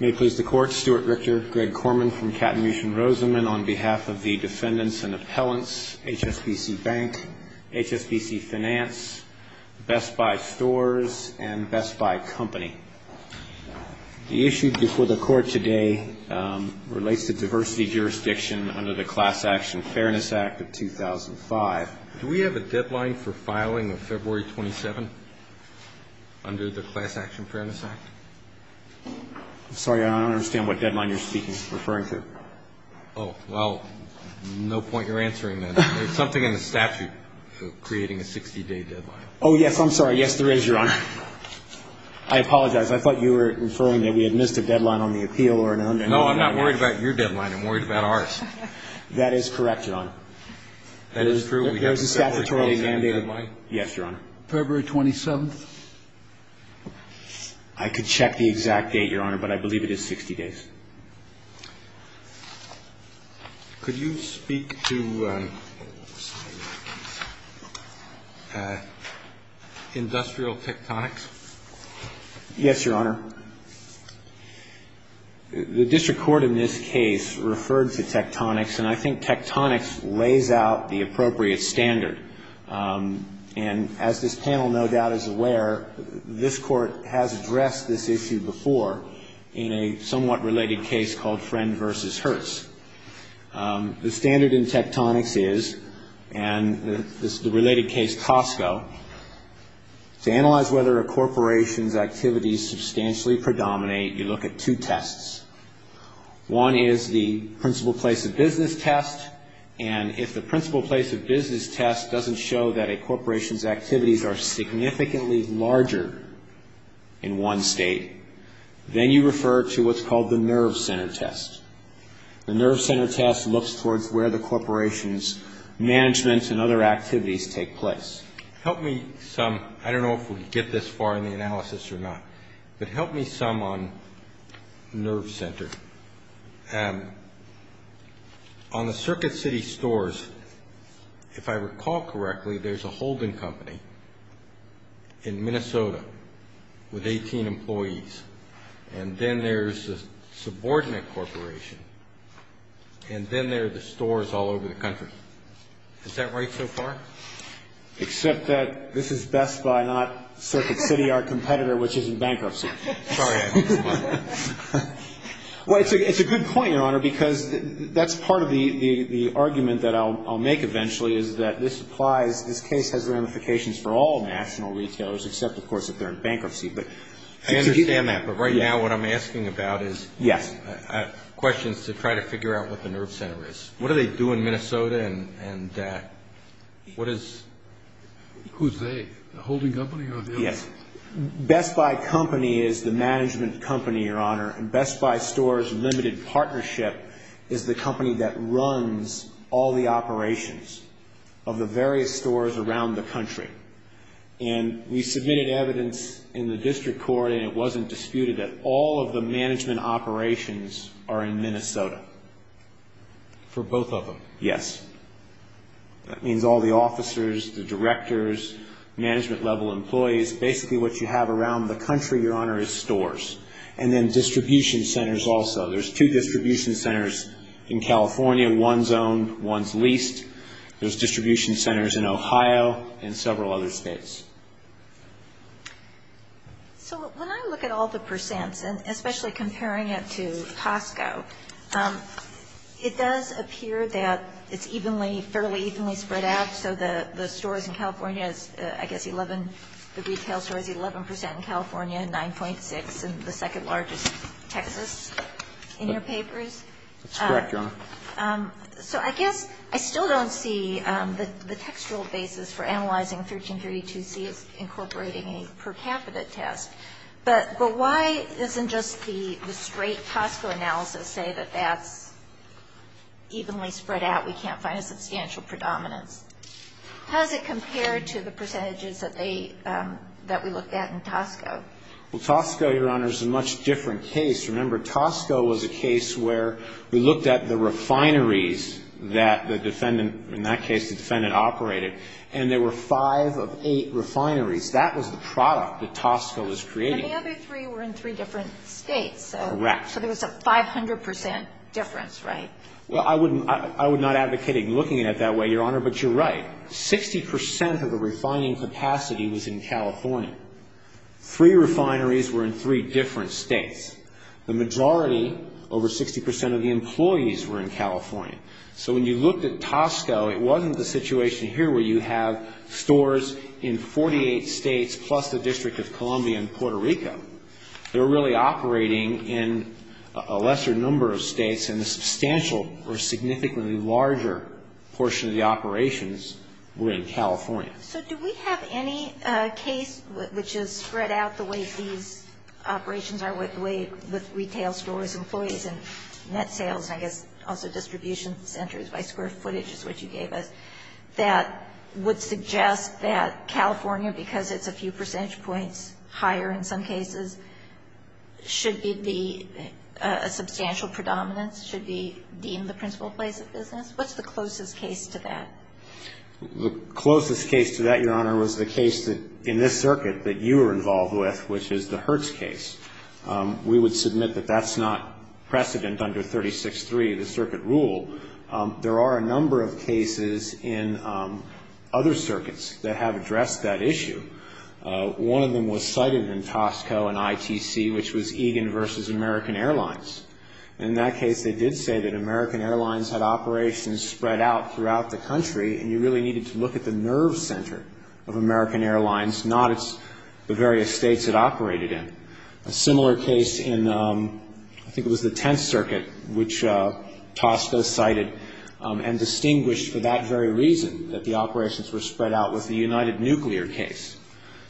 May it please the Court, Stuart Richter, Greg Korman from Katamusha and Rosamond on behalf of the Defendants and Appellants, HSBC Bank, HSBC Finance, Best Buy Stores, and Best Buy Company. The issue before the Court today relates to diversity jurisdiction under the Class Action Fairness Act of 2005. Do we have a deadline for filing of February 27 under the Class Action Fairness Act? I'm sorry, Your Honor. I don't understand what deadline you're speaking or referring to. Oh, well, no point in answering that. There's something in the statute for creating a 60-day deadline. Oh, yes. I'm sorry. Yes, there is, Your Honor. I apologize. I thought you were referring that we had missed a deadline on the appeal or an undue deadline. No, I'm not worried about your deadline. I'm worried about ours. That is correct, Your Honor. That is true. There's a statutory deadline. Yes, Your Honor. February 27th? I could check the exact date, Your Honor, but I believe it is 60 days. Could you speak to industrial tectonics? Yes, Your Honor. The district court in this case referred to tectonics, and I think tectonics lays out the appropriate standard. And as this panel no doubt is aware, this Court has addressed this issue before in a somewhat related case called Friend v. Hertz. The standard in tectonics is, and this is the related case, Costco, to analyze whether a corporation's activities substantially predominate, you look at two tests. One is the principal place of business test, and if the principal place of business test doesn't show that a corporation's activities are significantly larger in one state, then you refer to what's called the nerve center test. The nerve center test looks towards where the corporation's management and other activities take place. Help me sum, I don't know if we can get this far in the analysis or not, but help me sum on nerve center. On the Circuit City stores, if I recall correctly, there's a holding company in Minnesota with 18 employees, and then there's a subordinate corporation, and then there are the stores all over the country. Is that right so far? Except that this is Best Buy, not Circuit City, our competitor, which is in bankruptcy. Sorry. Well, it's a good point, Your Honor, because that's part of the argument that I'll make eventually, is that this applies, this case has ramifications for all national retailers, except, of course, if they're in bankruptcy. I understand that, but right now what I'm asking about is questions to try to figure out what the nerve center is. What do they do in Minnesota, and what is? Who's they? The holding company or the other? Yes. Best Buy Company is the management company, Your Honor, and Best Buy Stores Limited Partnership is the company that runs all the operations of the various stores around the country. And we submitted evidence in the district court, and it wasn't disputed that all of the management operations are in Minnesota. For both of them? Yes. That means all the officers, the directors, management-level employees, basically what you have around the country, Your Honor, is stores. And then distribution centers also. There's two distribution centers in California, one's owned, one's leased. There's distribution centers in Ohio and several other states. So when I look at all the percents, and especially comparing it to Costco, it does appear that it's evenly, fairly evenly spread out, so the stores in California is, I guess, 11, the retail store is 11 percent in California and 9.6 in the second largest, Texas, in your papers. That's correct, Your Honor. So I guess I still don't see the textual basis for analyzing 1332C as incorporating a per capita test, but why doesn't just the straight Costco analysis say that that's evenly spread out, we can't find a substantial predominance? How does it compare to the percentages that they, that we looked at in Costco? Well, Costco, Your Honor, is a much different case. Remember, Costco was a case where we looked at the refineries that the defendant, in that case the defendant operated, and there were five of eight refineries. That was the product that Costco was creating. And the other three were in three different states. Correct. So there was a 500 percent difference, right? Well, I would not advocate looking at it that way, Your Honor, but you're right. 60 percent of the refining capacity was in California. Three refineries were in three different states. The majority, over 60 percent of the employees were in California. So when you looked at Costco, it wasn't the situation here where you have stores in 48 states plus the District of Columbia and Puerto Rico. They were really operating in a lesser number of states, and a substantial or significantly larger portion of the operations were in California. So do we have any case which is spread out the way these operations are, the way the retail stores, employees, and net sales, and I guess also distribution centers by square footage is what you gave us, that would suggest that California, because it's a few percentage points higher in some cases, should be a substantial predominance, should be deemed the principal place of business? What's the closest case to that? The closest case to that, Your Honor, was the case that, in this circuit, that you were involved with, which is the Hertz case. We would submit that that's not precedent under 36-3, the circuit rule. There are a number of cases in other circuits that have addressed that issue. One of them was cited in Costco and ITC, which was Egan v. American Airlines. In that case, they did say that American Airlines had operations spread out throughout the country, and you really needed to look at the nerve center of American Airlines, not the various states it operated in. A similar case in, I think it was the Tenth Circuit, which Costco cited, and distinguished for that very reason that the operations were spread out, was the United Nuclear case,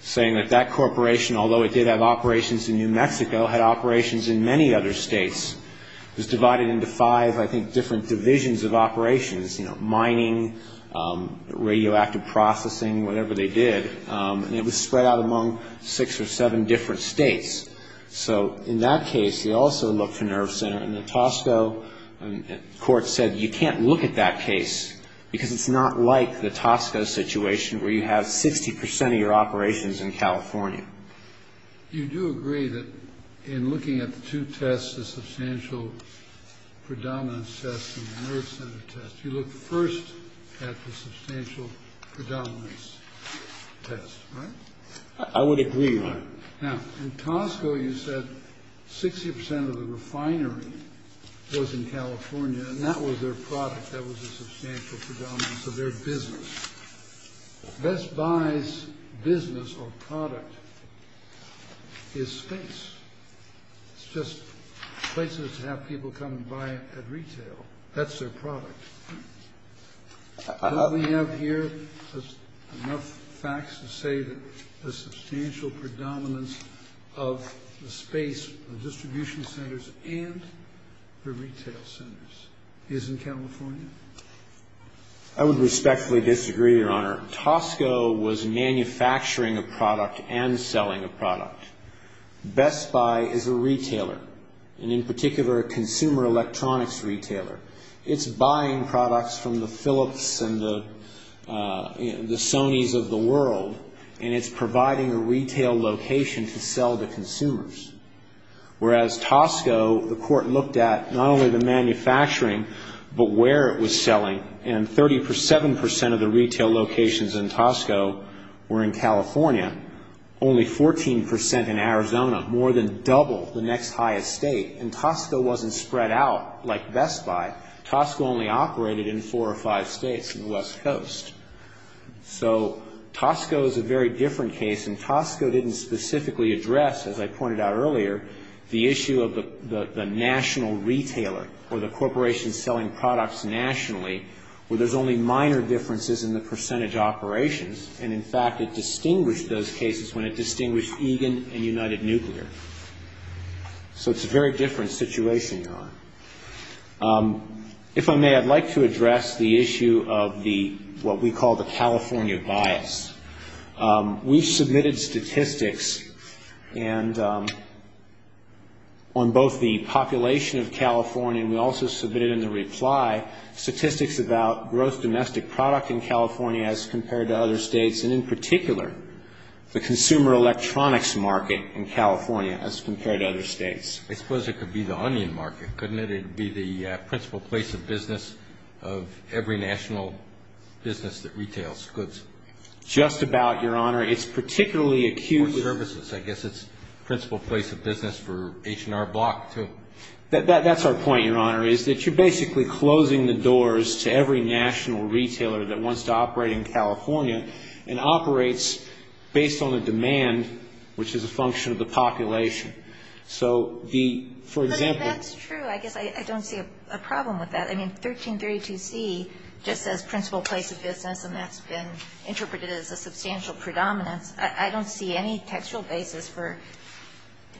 saying that that corporation, although it did have operations in New Mexico, had operations in many other states. It was divided into five, I think, different divisions of operations, you know, mining, radioactive processing, whatever they did, and it was spread out among six or seven different states. So in that case, they also looked for nerve center, and the Costco court said, you can't look at that case because it's not like the Costco situation where you have 60 percent of your operations in California. You do agree that in looking at the two tests, the substantial predominance test and the nerve center test, you look first at the substantial predominance test, right? I would agree, Your Honor. Now, in Costco, you said 60 percent of the refinery was in California, and that was their product. That was the substantial predominance of their business. Best Buy's business or product is space. It's just places to have people come and buy at retail. That's their product. Don't we have here enough facts to say that the substantial predominance of the space of distribution centers and the retail centers is in California? I would respectfully disagree, Your Honor. Costco was manufacturing a product and selling a product. Best Buy is a retailer, and in particular, a consumer electronics retailer. It's buying products from the Philips and the Sonys of the world, and it's providing a retail location to sell to consumers, whereas Costco, the Court looked at not only the manufacturing, but where it was selling. And 37 percent of the retail locations in Costco were in California, only 14 percent in Arizona, more than double the next highest state. And Costco wasn't spread out like Best Buy. Costco only operated in four or five states in the West Coast. So Costco is a very different case, and Costco didn't specifically address, as I pointed out earlier, the issue of the national retailer or the corporation selling products nationally, where there's only minor differences in the percentage operations. And, in fact, it distinguished those cases when it distinguished Egan and United Nuclear. So it's a very different situation, Your Honor. If I may, I'd like to address the issue of what we call the California bias. We submitted statistics on both the population of California, and we also submitted in the reply statistics about gross domestic product in California as compared to other states, and, in particular, the consumer electronics market in California as compared to other states. I suppose it could be the onion market, couldn't it? It would be the principal place of business of every national business that retails goods. Just about, Your Honor. It's particularly acute. Or services. I guess it's principal place of business for H&R Block, too. That's our point, Your Honor, is that you're basically closing the doors to every national retailer that wants to operate in California and operates based on the demand, which is a function of the population. So the, for example ---- But that's true. I guess I don't see a problem with that. I mean, 1332C just says principal place of business, and that's been interpreted as a substantial predominance. I don't see any textual basis for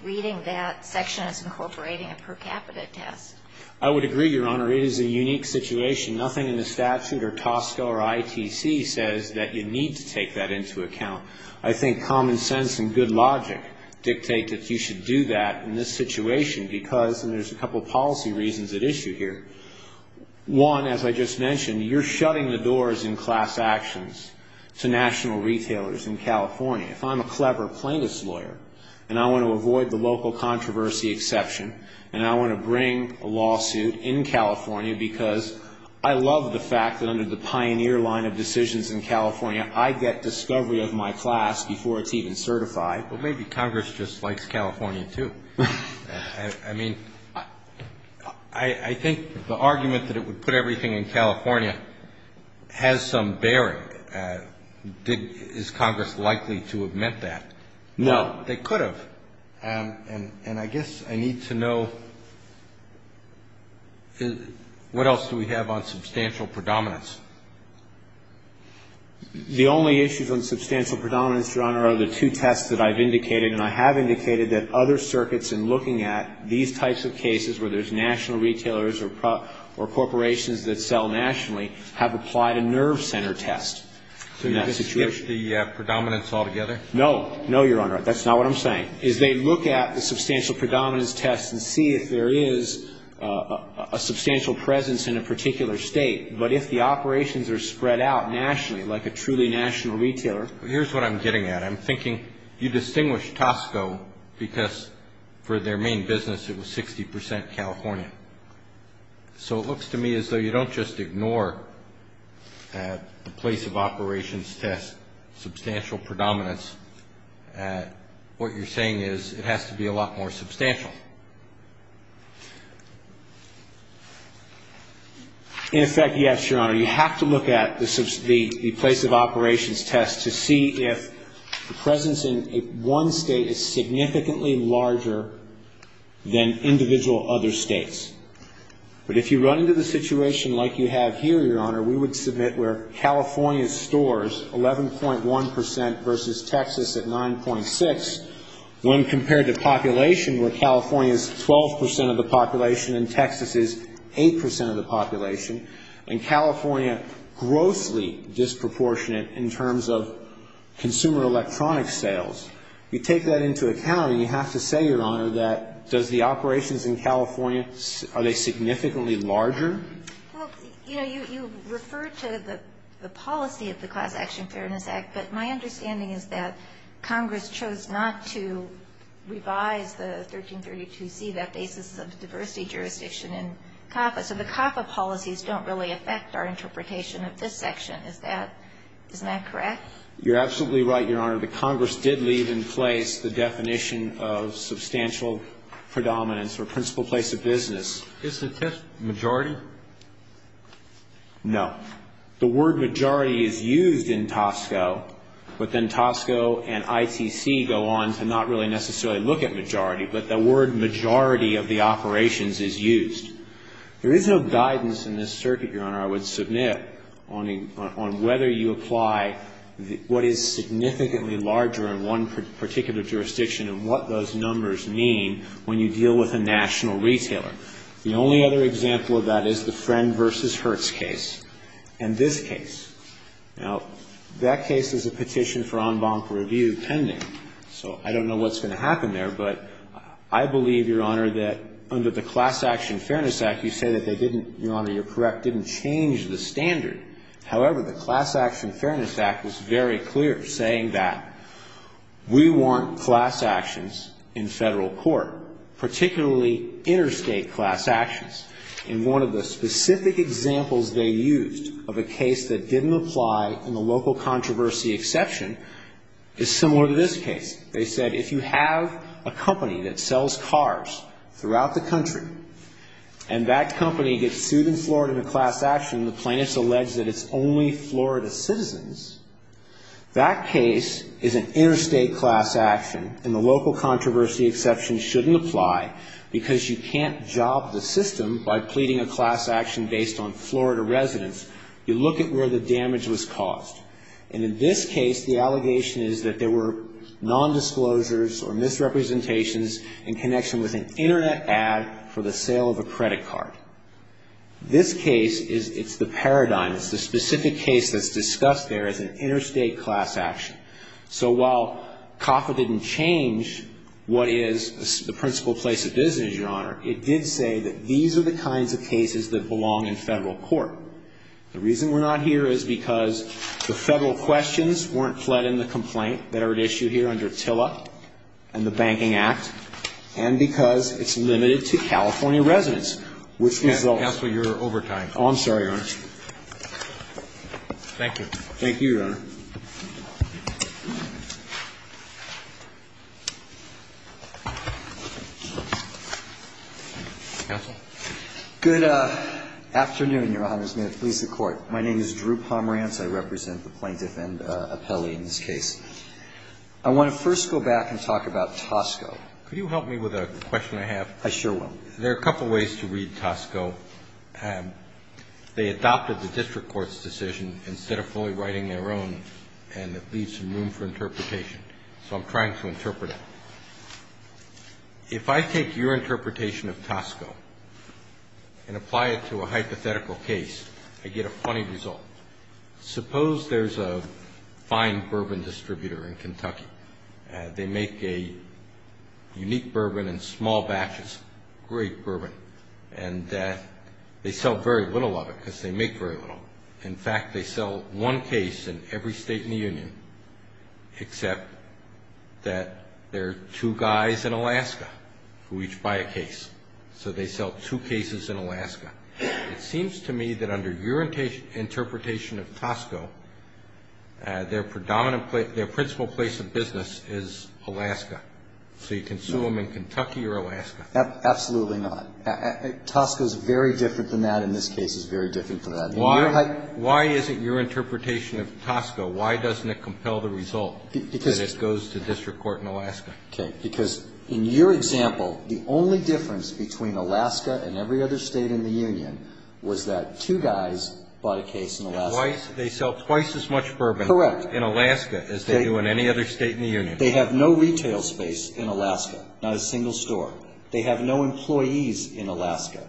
reading that section as incorporating a per capita test. I would agree, Your Honor. It is a unique situation. Nothing in the statute or TSCA or ITC says that you need to take that into account. I think common sense and good logic dictate that you should do that in this situation because there's a couple policy reasons at issue here. One, as I just mentioned, you're shutting the doors in class actions to national retailers in California. If I'm a clever plaintiff's lawyer and I want to avoid the local controversy exception and I want to bring a lawsuit in California because I love the fact that under the pioneer line of decisions in California, I get discovery of my class before it's even certified. But maybe Congress just likes California, too. I mean, I think the argument that it would put everything in California has some bearing. Is Congress likely to have meant that? No. They could have. And I guess I need to know, what else do we have on substantial predominance? The only issues on substantial predominance, Your Honor, are the two tests that I've indicated, and I have indicated that other circuits in looking at these types of cases where there's national retailers or corporations that sell nationally have applied a nerve center test in that situation. Did you just skip the predominance altogether? No, Your Honor. That's not what I'm saying, is they look at the substantial predominance test and see if there is a substantial presence in a particular state. But if the operations are spread out nationally, like a truly national retailer. Here's what I'm getting at. I'm thinking you distinguish Tosco because for their main business it was 60 percent California. So it looks to me as though you don't just ignore the place of operations test, substantial predominance. What you're saying is it has to be a lot more substantial. In effect, yes, Your Honor. You have to look at the place of operations test to see if the presence in one state is significantly larger than individual other states. But if you run into the situation like you have here, Your Honor, we would submit where California stores 11.1 percent versus Texas at 9.6, when compared to population where California is 12 percent of the population and Texas is 8 percent of the population, and California grossly disproportionate in terms of consumer electronics sales, you take that into account and you have to say, Your Honor, that does the operations in California, are they significantly larger? Well, you know, you refer to the policy of the Clause Action Fairness Act, but my understanding is that Congress chose not to revise the 1332C, that basis of diversity jurisdiction in CAFA. So the CAFA policies don't really affect our interpretation of this section. Is that correct? You're absolutely right, Your Honor. The Congress did leave in place the definition of substantial predominance or principal place of business. Is the test majority? No. The word majority is used in Tosco, but then Tosco and ITC go on to not really necessarily look at majority, but the word majority of the operations is used. There is no guidance in this circuit, Your Honor, I would submit, on whether you apply what is significantly larger in one particular jurisdiction and what those numbers mean when you deal with a national retailer. The only other example of that is the Friend v. Hertz case and this case. Now, that case is a petition for en banc review pending, so I don't know what's going to happen there, but I believe, Your Honor, that under the Class Action Fairness Act, you say that they didn't, Your Honor, you're correct, didn't change the standard. However, the Class Action Fairness Act was very clear, saying that we want class actions in federal court, particularly interstate class actions. And one of the specific examples they used of a case that didn't apply in the local controversy exception is similar to this case. They said if you have a company that sells cars throughout the country and that company gets sued in Florida in a class action, the plaintiffs allege that it's only Florida citizens, that case is an interstate class action and the local controversy exception shouldn't apply because you can't job the system by pleading a class action based on Florida residents. You look at where the damage was caused. And in this case, the allegation is that there were nondisclosures or misrepresentations in connection with an Internet ad for the sale of a credit card. This case is, it's the paradigm, it's the specific case that's discussed there as an interstate class action. So while CAFA didn't change what is the principal place of business, Your Honor, it did say that these are the kinds of cases that belong in federal court. The reason we're not here is because the federal questions weren't fled in the complaint that are at issue here under TILA and the Banking Act, and because it's going to create maybe a wave of harassment when we go into the office, that's happening So what we're doing it is trying to exclude these kinds of atrocities in the plaintiff's office so we can't go back into that and try to be bureaucrats and add some more controls to it. I'm sorry, Your Honor. If I take your interpretation of Tosco and apply it to a hypothetical case, I get a funny result. Suppose there's a fine bourbon distributor in Kentucky. They make a great bourbon in small batches. Great bourbon. And they sell very little of it because they make very little. In fact, they sell one case in every state in the union except that there are two guys in Alaska who each buy a case. So they sell two cases in Alaska. It seems to me that under your interpretation of Tosco, their predominant place, their principal place of business is Alaska. So you can sue them in Kentucky or Alaska. Absolutely not. Tosco is very different than that. In this case, it's very different from that. Why is it your interpretation of Tosco, why doesn't it compel the result that it goes to district court in Alaska? Because in your example, the only difference between Alaska and every other state in the union was that two guys bought a case in Alaska. They sell twice as much bourbon in Alaska as they do in any other state in the union. They have no retail space in Alaska, not a single store. They have no employees in Alaska.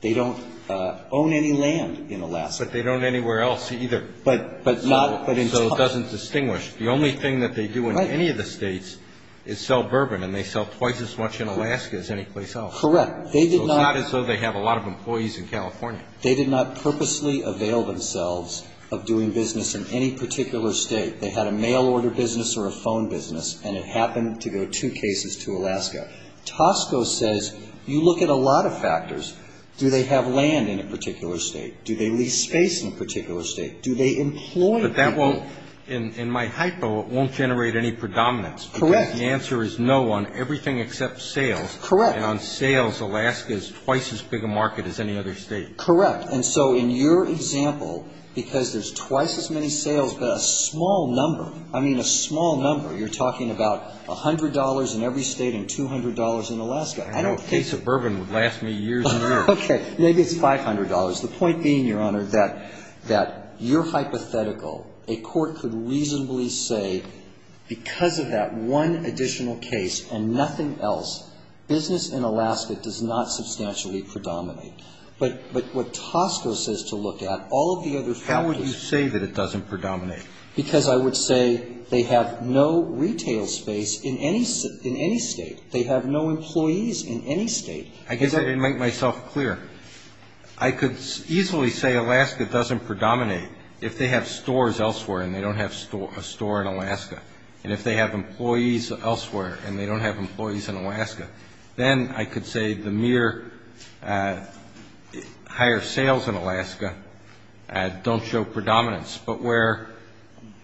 They don't own any land in Alaska. But they don't anywhere else either. But not So it doesn't distinguish. The only thing that they do in any of the states is sell bourbon, and they sell twice as much in Alaska as anyplace else. Correct. They did not So it's not as though they have a lot of employees in California. They did not purposely avail themselves of doing business in any particular state. They had a mail order business or a phone business, and it happened to go two cases to Alaska. Tosco says you look at a lot of factors. Do they have land in a particular state? Do they lease space in a particular state? Do they employ people? But that won't, in my hypo, it won't generate any predominance. Correct. Because the answer is no on everything except sales. Correct. And on sales, Alaska is twice as big a market as any other state. Correct. And so in your example, because there's twice as many sales, but a small number, I mean a small number, you're talking about $100 in every state and $200 in Alaska. I don't think A case of bourbon would last me years and years. Okay. Maybe it's $500. The point being, Your Honor, that your hypothetical, a court could reasonably say because of that one additional case and nothing else, business in Alaska does not substantially predominate. But what Tosco says to look at, all of the other factors How would you say that it doesn't predominate? Because I would say they have no retail space in any state. They have no employees in any state. I guess I didn't make myself clear. I could easily say Alaska doesn't predominate if they have stores elsewhere and they don't have a store in Alaska. And if they have I could say the mere higher sales in Alaska don't show predominance. But where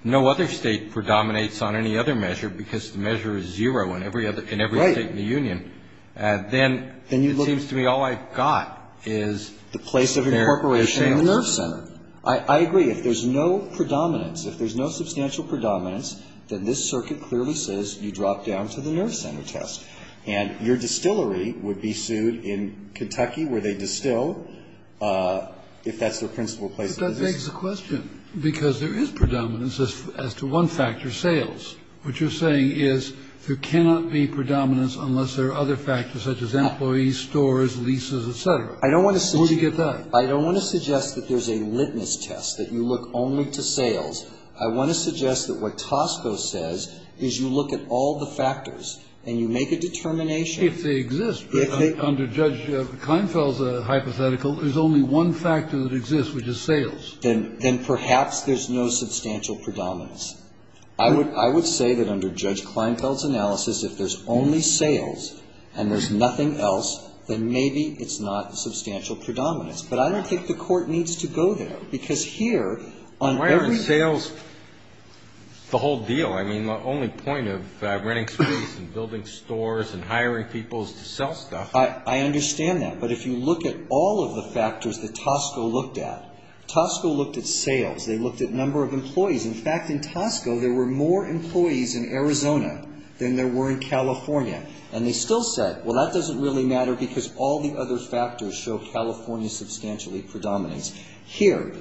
no other state predominates on any other measure because the measure is zero in every state in the union, then it seems to me all I've got is The place of incorporation in the nerve center. I agree. If there's no predominance, if there's no substantial predominance, then this circuit clearly says you drop down to the nerve center test. And your distillery would be sued in Kentucky where they distill if that's their principal place of business. But that begs the question, because there is predominance as to one factor, sales. What you're saying is there cannot be predominance unless there are other factors such as employees, stores, leases, et cetera. I don't want to suggest Where do you get that? I don't want to suggest that there's a litmus test, that you look only to sales. I want to suggest that what Tosco says is you look at all the factors and you make a determination. If they exist, under Judge Kleinfeld's hypothetical, there's only one factor that exists, which is sales. Then perhaps there's no substantial predominance. I would say that under Judge Kleinfeld's analysis, if there's only sales and there's nothing else, then maybe it's not substantial predominance. But I don't think the Court needs to go there because here Why aren't sales the whole deal? I mean, the only point of renting streets and building stores and hiring people is to sell stuff. I understand that. But if you look at all of the factors that Tosco looked at, Tosco looked at sales. They looked at number of employees. In fact, in Tosco, there were more employees in Arizona than there were in California. And they still said, well, that doesn't really matter because all the other factors show California substantially predominance. Here,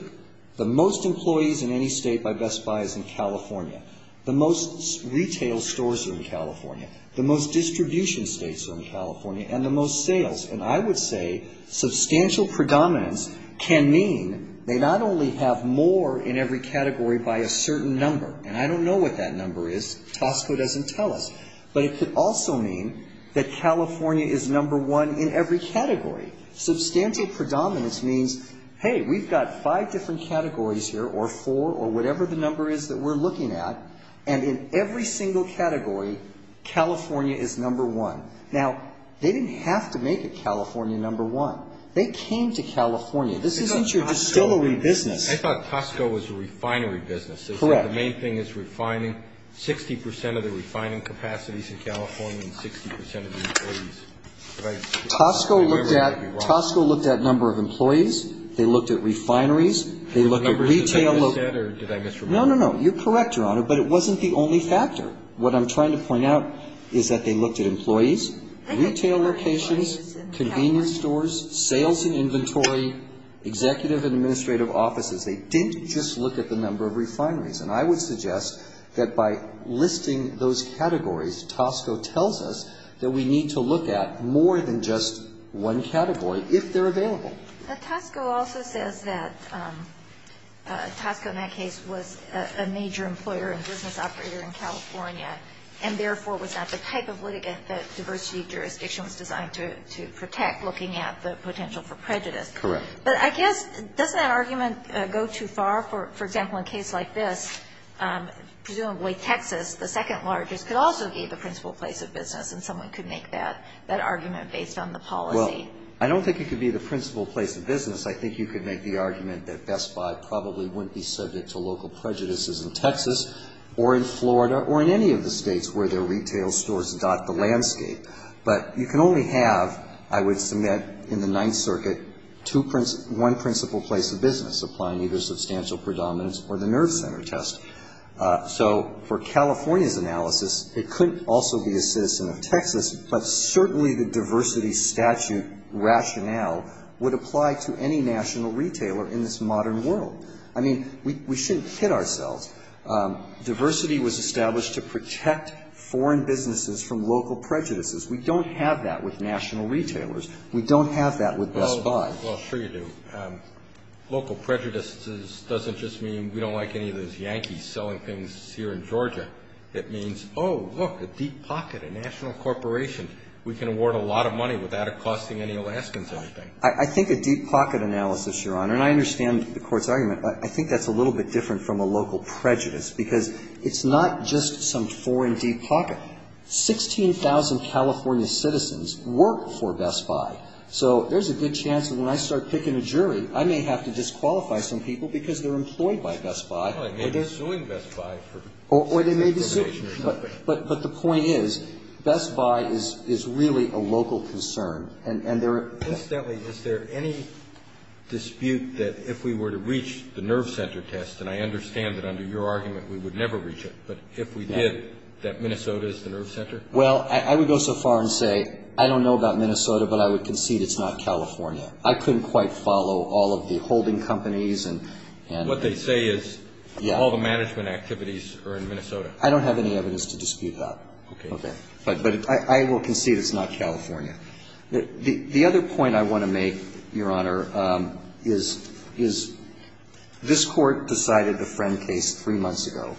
the most employees in any state by Best Buy is in California. The most retail stores are in California. The most distribution states are in California. And the most sales. And I would say substantial predominance can mean they not only have more in every category by a certain number, and I don't know what that number is. Tosco doesn't tell us. But it could also mean that California is number one in every category. Substantial predominance means, hey, we've got five different categories here or four or whatever the number is that we're looking at. And in every single category, California is number one. Now, they didn't have to make it California number one. They came to California. This isn't your distillery business. I thought Tosco was a refinery business. Correct. The main thing is refining. 60% of the refining capacities in California and 60% of the employees. Tosco looked at number of employees. They looked at refineries. They looked at retail. No, no, no. You're correct, Your Honor. But it wasn't the only factor. What I'm trying to point out is that they looked at employees, retail locations, convenience stores, sales and inventory, executive and administrative offices. They didn't just look at the number of refineries. And I would suggest that by listing those categories, Tosco tells us that we need to look at more than just one category if they're available. But Tosco also says that Tosco in that case was a major employer and business operator in California, and therefore was not the type of litigant that diversity jurisdiction was designed to protect, looking at the potential for prejudice. Correct. But I guess doesn't that argument go too far? For example, in a case like this, presumably Texas, the second largest, could also be the principal place of business, and someone could make that argument based on the policy. Well, I don't think it could be the principal place of business. I think you could make the argument that Best Buy probably wouldn't be subject to local prejudices in Texas or in Florida or in any of the states where their retail stores dot the landscape. But you can only have, I would submit in the Ninth Circuit, one principal place of business applying either substantial predominance or the nerve center test. So for California's analysis, it couldn't also be a citizen of Texas, but certainly the diversity statute rationale would apply to any national retailer in this modern world. I mean, we shouldn't kid ourselves. Diversity was established to protect foreign businesses from local prejudices. We don't have that with national retailers. We don't have that with Best Buy. Well, sure you do. Local prejudices doesn't just mean we don't like any of those Yankees selling things here in Georgia. It means, oh, look, a deep pocket, a national corporation. We can award a lot of money without it costing any Alaskans anything. I think a deep pocket analysis, Your Honor, and I understand the Court's argument, I think that's a little bit different from a local prejudice because it's not just some foreign deep pocket. Sixteen thousand California citizens work for Best Buy. So there's a good chance that when I start picking a jury, I may have to disqualify some people because they're employed by Best Buy. Well, they may be suing Best Buy for discrimination or something. But the point is Best Buy is really a local concern. And there are... Incidentally, is there any dispute that if we were to reach the nerve center test, and I understand that under your argument we would never reach it, but if we did, that Minnesota is the nerve center? Well, I would go so far and say I don't know about Minnesota, but I would concede it's not California. I couldn't quite follow all of the holding companies and... What they say is all the management activities are in Minnesota. I don't have any evidence to dispute that. Okay. But I will concede it's not California. The other point I want to make, Your Honor, is this Court decided the Friend case three months ago.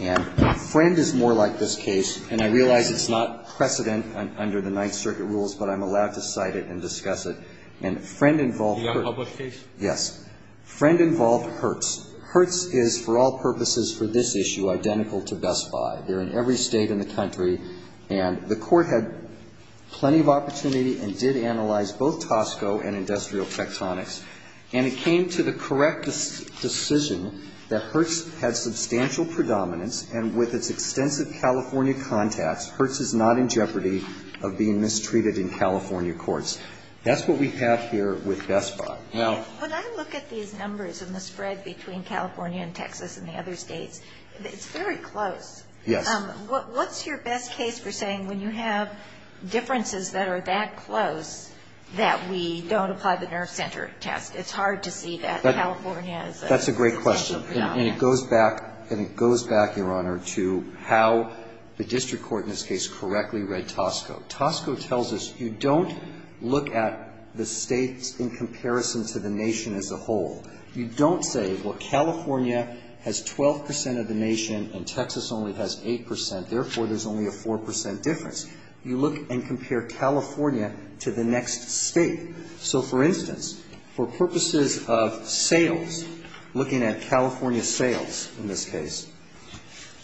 And Friend is more like this case. And I realize it's not precedent under the Ninth Circuit rules, but I'm allowed to cite it and discuss it. And Friend involved... The other public case? Yes. Friend involved Hertz. Hertz is, for all purposes for this issue, identical to Best Buy. They're in every State in the country. And the Court had plenty of opportunity and did analyze both Tosco and Industrial Tectonics. And it came to the correct decision that Hertz had substantial predominance. And with its extensive California contacts, Hertz is not in jeopardy of being mistreated in California courts. That's what we have here with Best Buy. Now... When I look at these numbers and the spread between California and Texas and the other States, it's very close. Yes. What's your best case for saying when you have differences that are that close that we don't apply the nerve center test? It's hard to see that California is... That's a great question. And it goes back, and it goes back, Your Honor, to how the district court in this case correctly read Tosco. Tosco tells us you don't look at the States in comparison to the nation as a whole. You don't say, well, California has 12 percent of the nation and Texas only has 8 percent. Therefore, there's only a 4 percent difference. You look and compare California to the next State. So, for instance, for purposes of sales, looking at California sales in this case,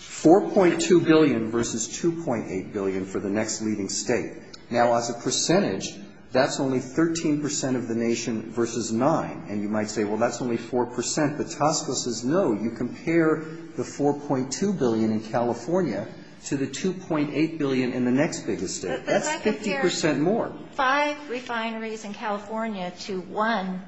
4.2 billion versus 2.8 billion for the next leading State. Now, as a percentage, that's only 13 percent of the nation versus 9. And you might say, well, that's only 4 percent. But Tosco says, no, you compare the 4.2 billion in California to the 2.8 billion in the next biggest State. That's 50 percent more. But if I compare five refineries in California to one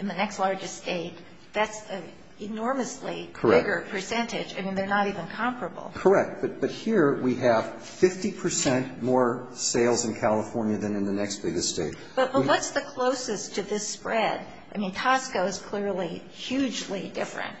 in the next largest State, that's an enormously bigger percentage. Correct. I mean, they're not even comparable. Correct. But here we have 50 percent more sales in California than in the next biggest State. But what's the closest to this spread? I mean, Tosco is clearly hugely different.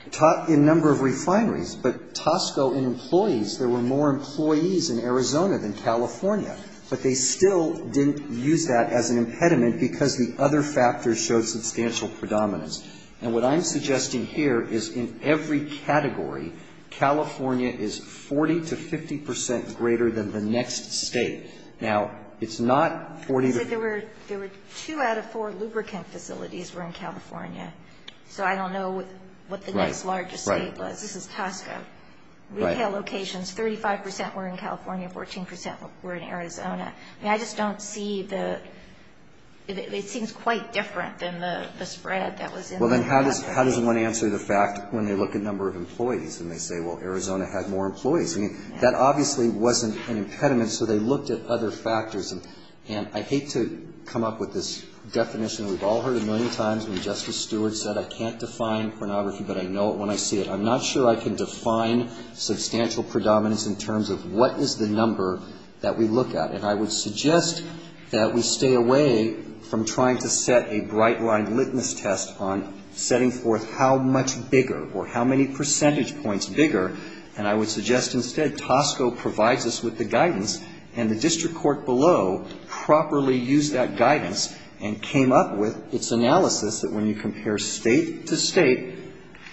In number of refineries. But Tosco in employees, there were more employees in Arizona than California. But they still didn't use that as an impediment because the other factors showed substantial predominance. And what I'm suggesting here is in every category, California is 40 to 50 percent greater than the next State. Now, it's not 40. You said there were two out of four lubricant facilities were in California. So I don't know what the next largest State was. Right. This is Tosco. Retail locations, 35 percent were in California, 14 percent were in Arizona. I mean, I just don't see the ‑‑ it seems quite different than the spread that was in the other State. Well, then how does one answer the fact when they look at number of employees and they say, well, Arizona had more employees? I mean, that obviously wasn't an impediment, so they looked at other factors. And I hate to come up with this definition. We've all heard it a million times when Justice Stewart said, I can't define pornography, but I know it when I see it. I'm not sure I can define substantial predominance in terms of what is the number that we look at. And I would suggest that we stay away from trying to set a bright‑blind litmus test on setting forth how much bigger or how many percentage points bigger. And I would suggest instead Tosco provides us with the guidance and the district court below properly used that guidance and came up with its analysis that when you compare State to State,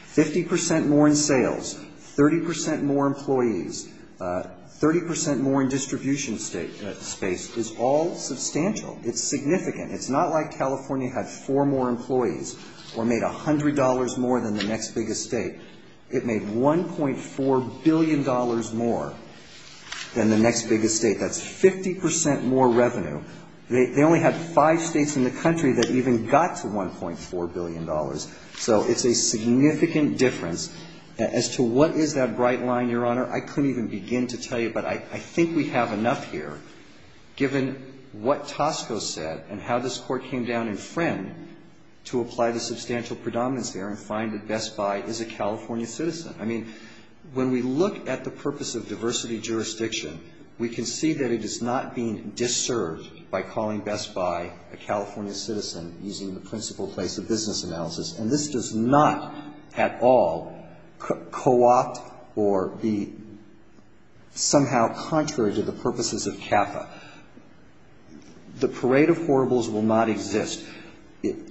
50 percent more in sales, 30 percent more employees, 30 percent more in distribution space is all substantial. It's significant. It's not like California had four more employees or made $100 more than the next biggest State. It made $1.4 billion more than the next biggest State. That's 50 percent more revenue. They only had five States in the country that even got to $1.4 billion. So it's a significant difference. As to what is that bright line, Your Honor, I couldn't even begin to tell you, but I think we have enough here given what Tosco said and how this Court came down in Friend to apply the substantial predominance there and find that Best Buy is a California citizen. I mean, when we look at the purpose of diversity jurisdiction, we can see that it is not being disserved by calling Best Buy a California citizen using the principle place of business analysis. And this does not at all coopt or be somehow contrary to the purposes of CAFA. The parade of horribles will not exist.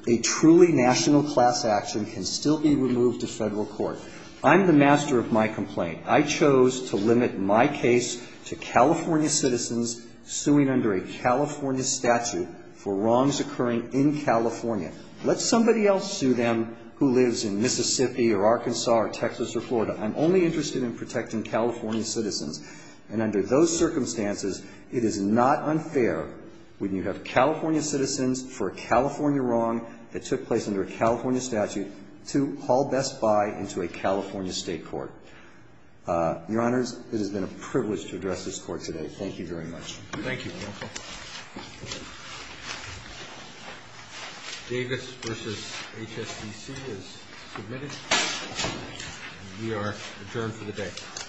A truly national class action can still be removed to Federal court. I'm the master of my complaint. I chose to limit my case to California citizens suing under a California statute for wrongs occurring in California. Let somebody else sue them who lives in Mississippi or Arkansas or Texas or Florida. I'm only interested in protecting California citizens. And under those circumstances, it is not unfair when you have California citizens for a California wrong that took place under a California statute to haul Best Buy into a California state court. Your Honors, it has been a privilege to address this Court today. Thank you very much. Thank you, counsel. Davis v. HSBC is submitted. We are adjourned for the day.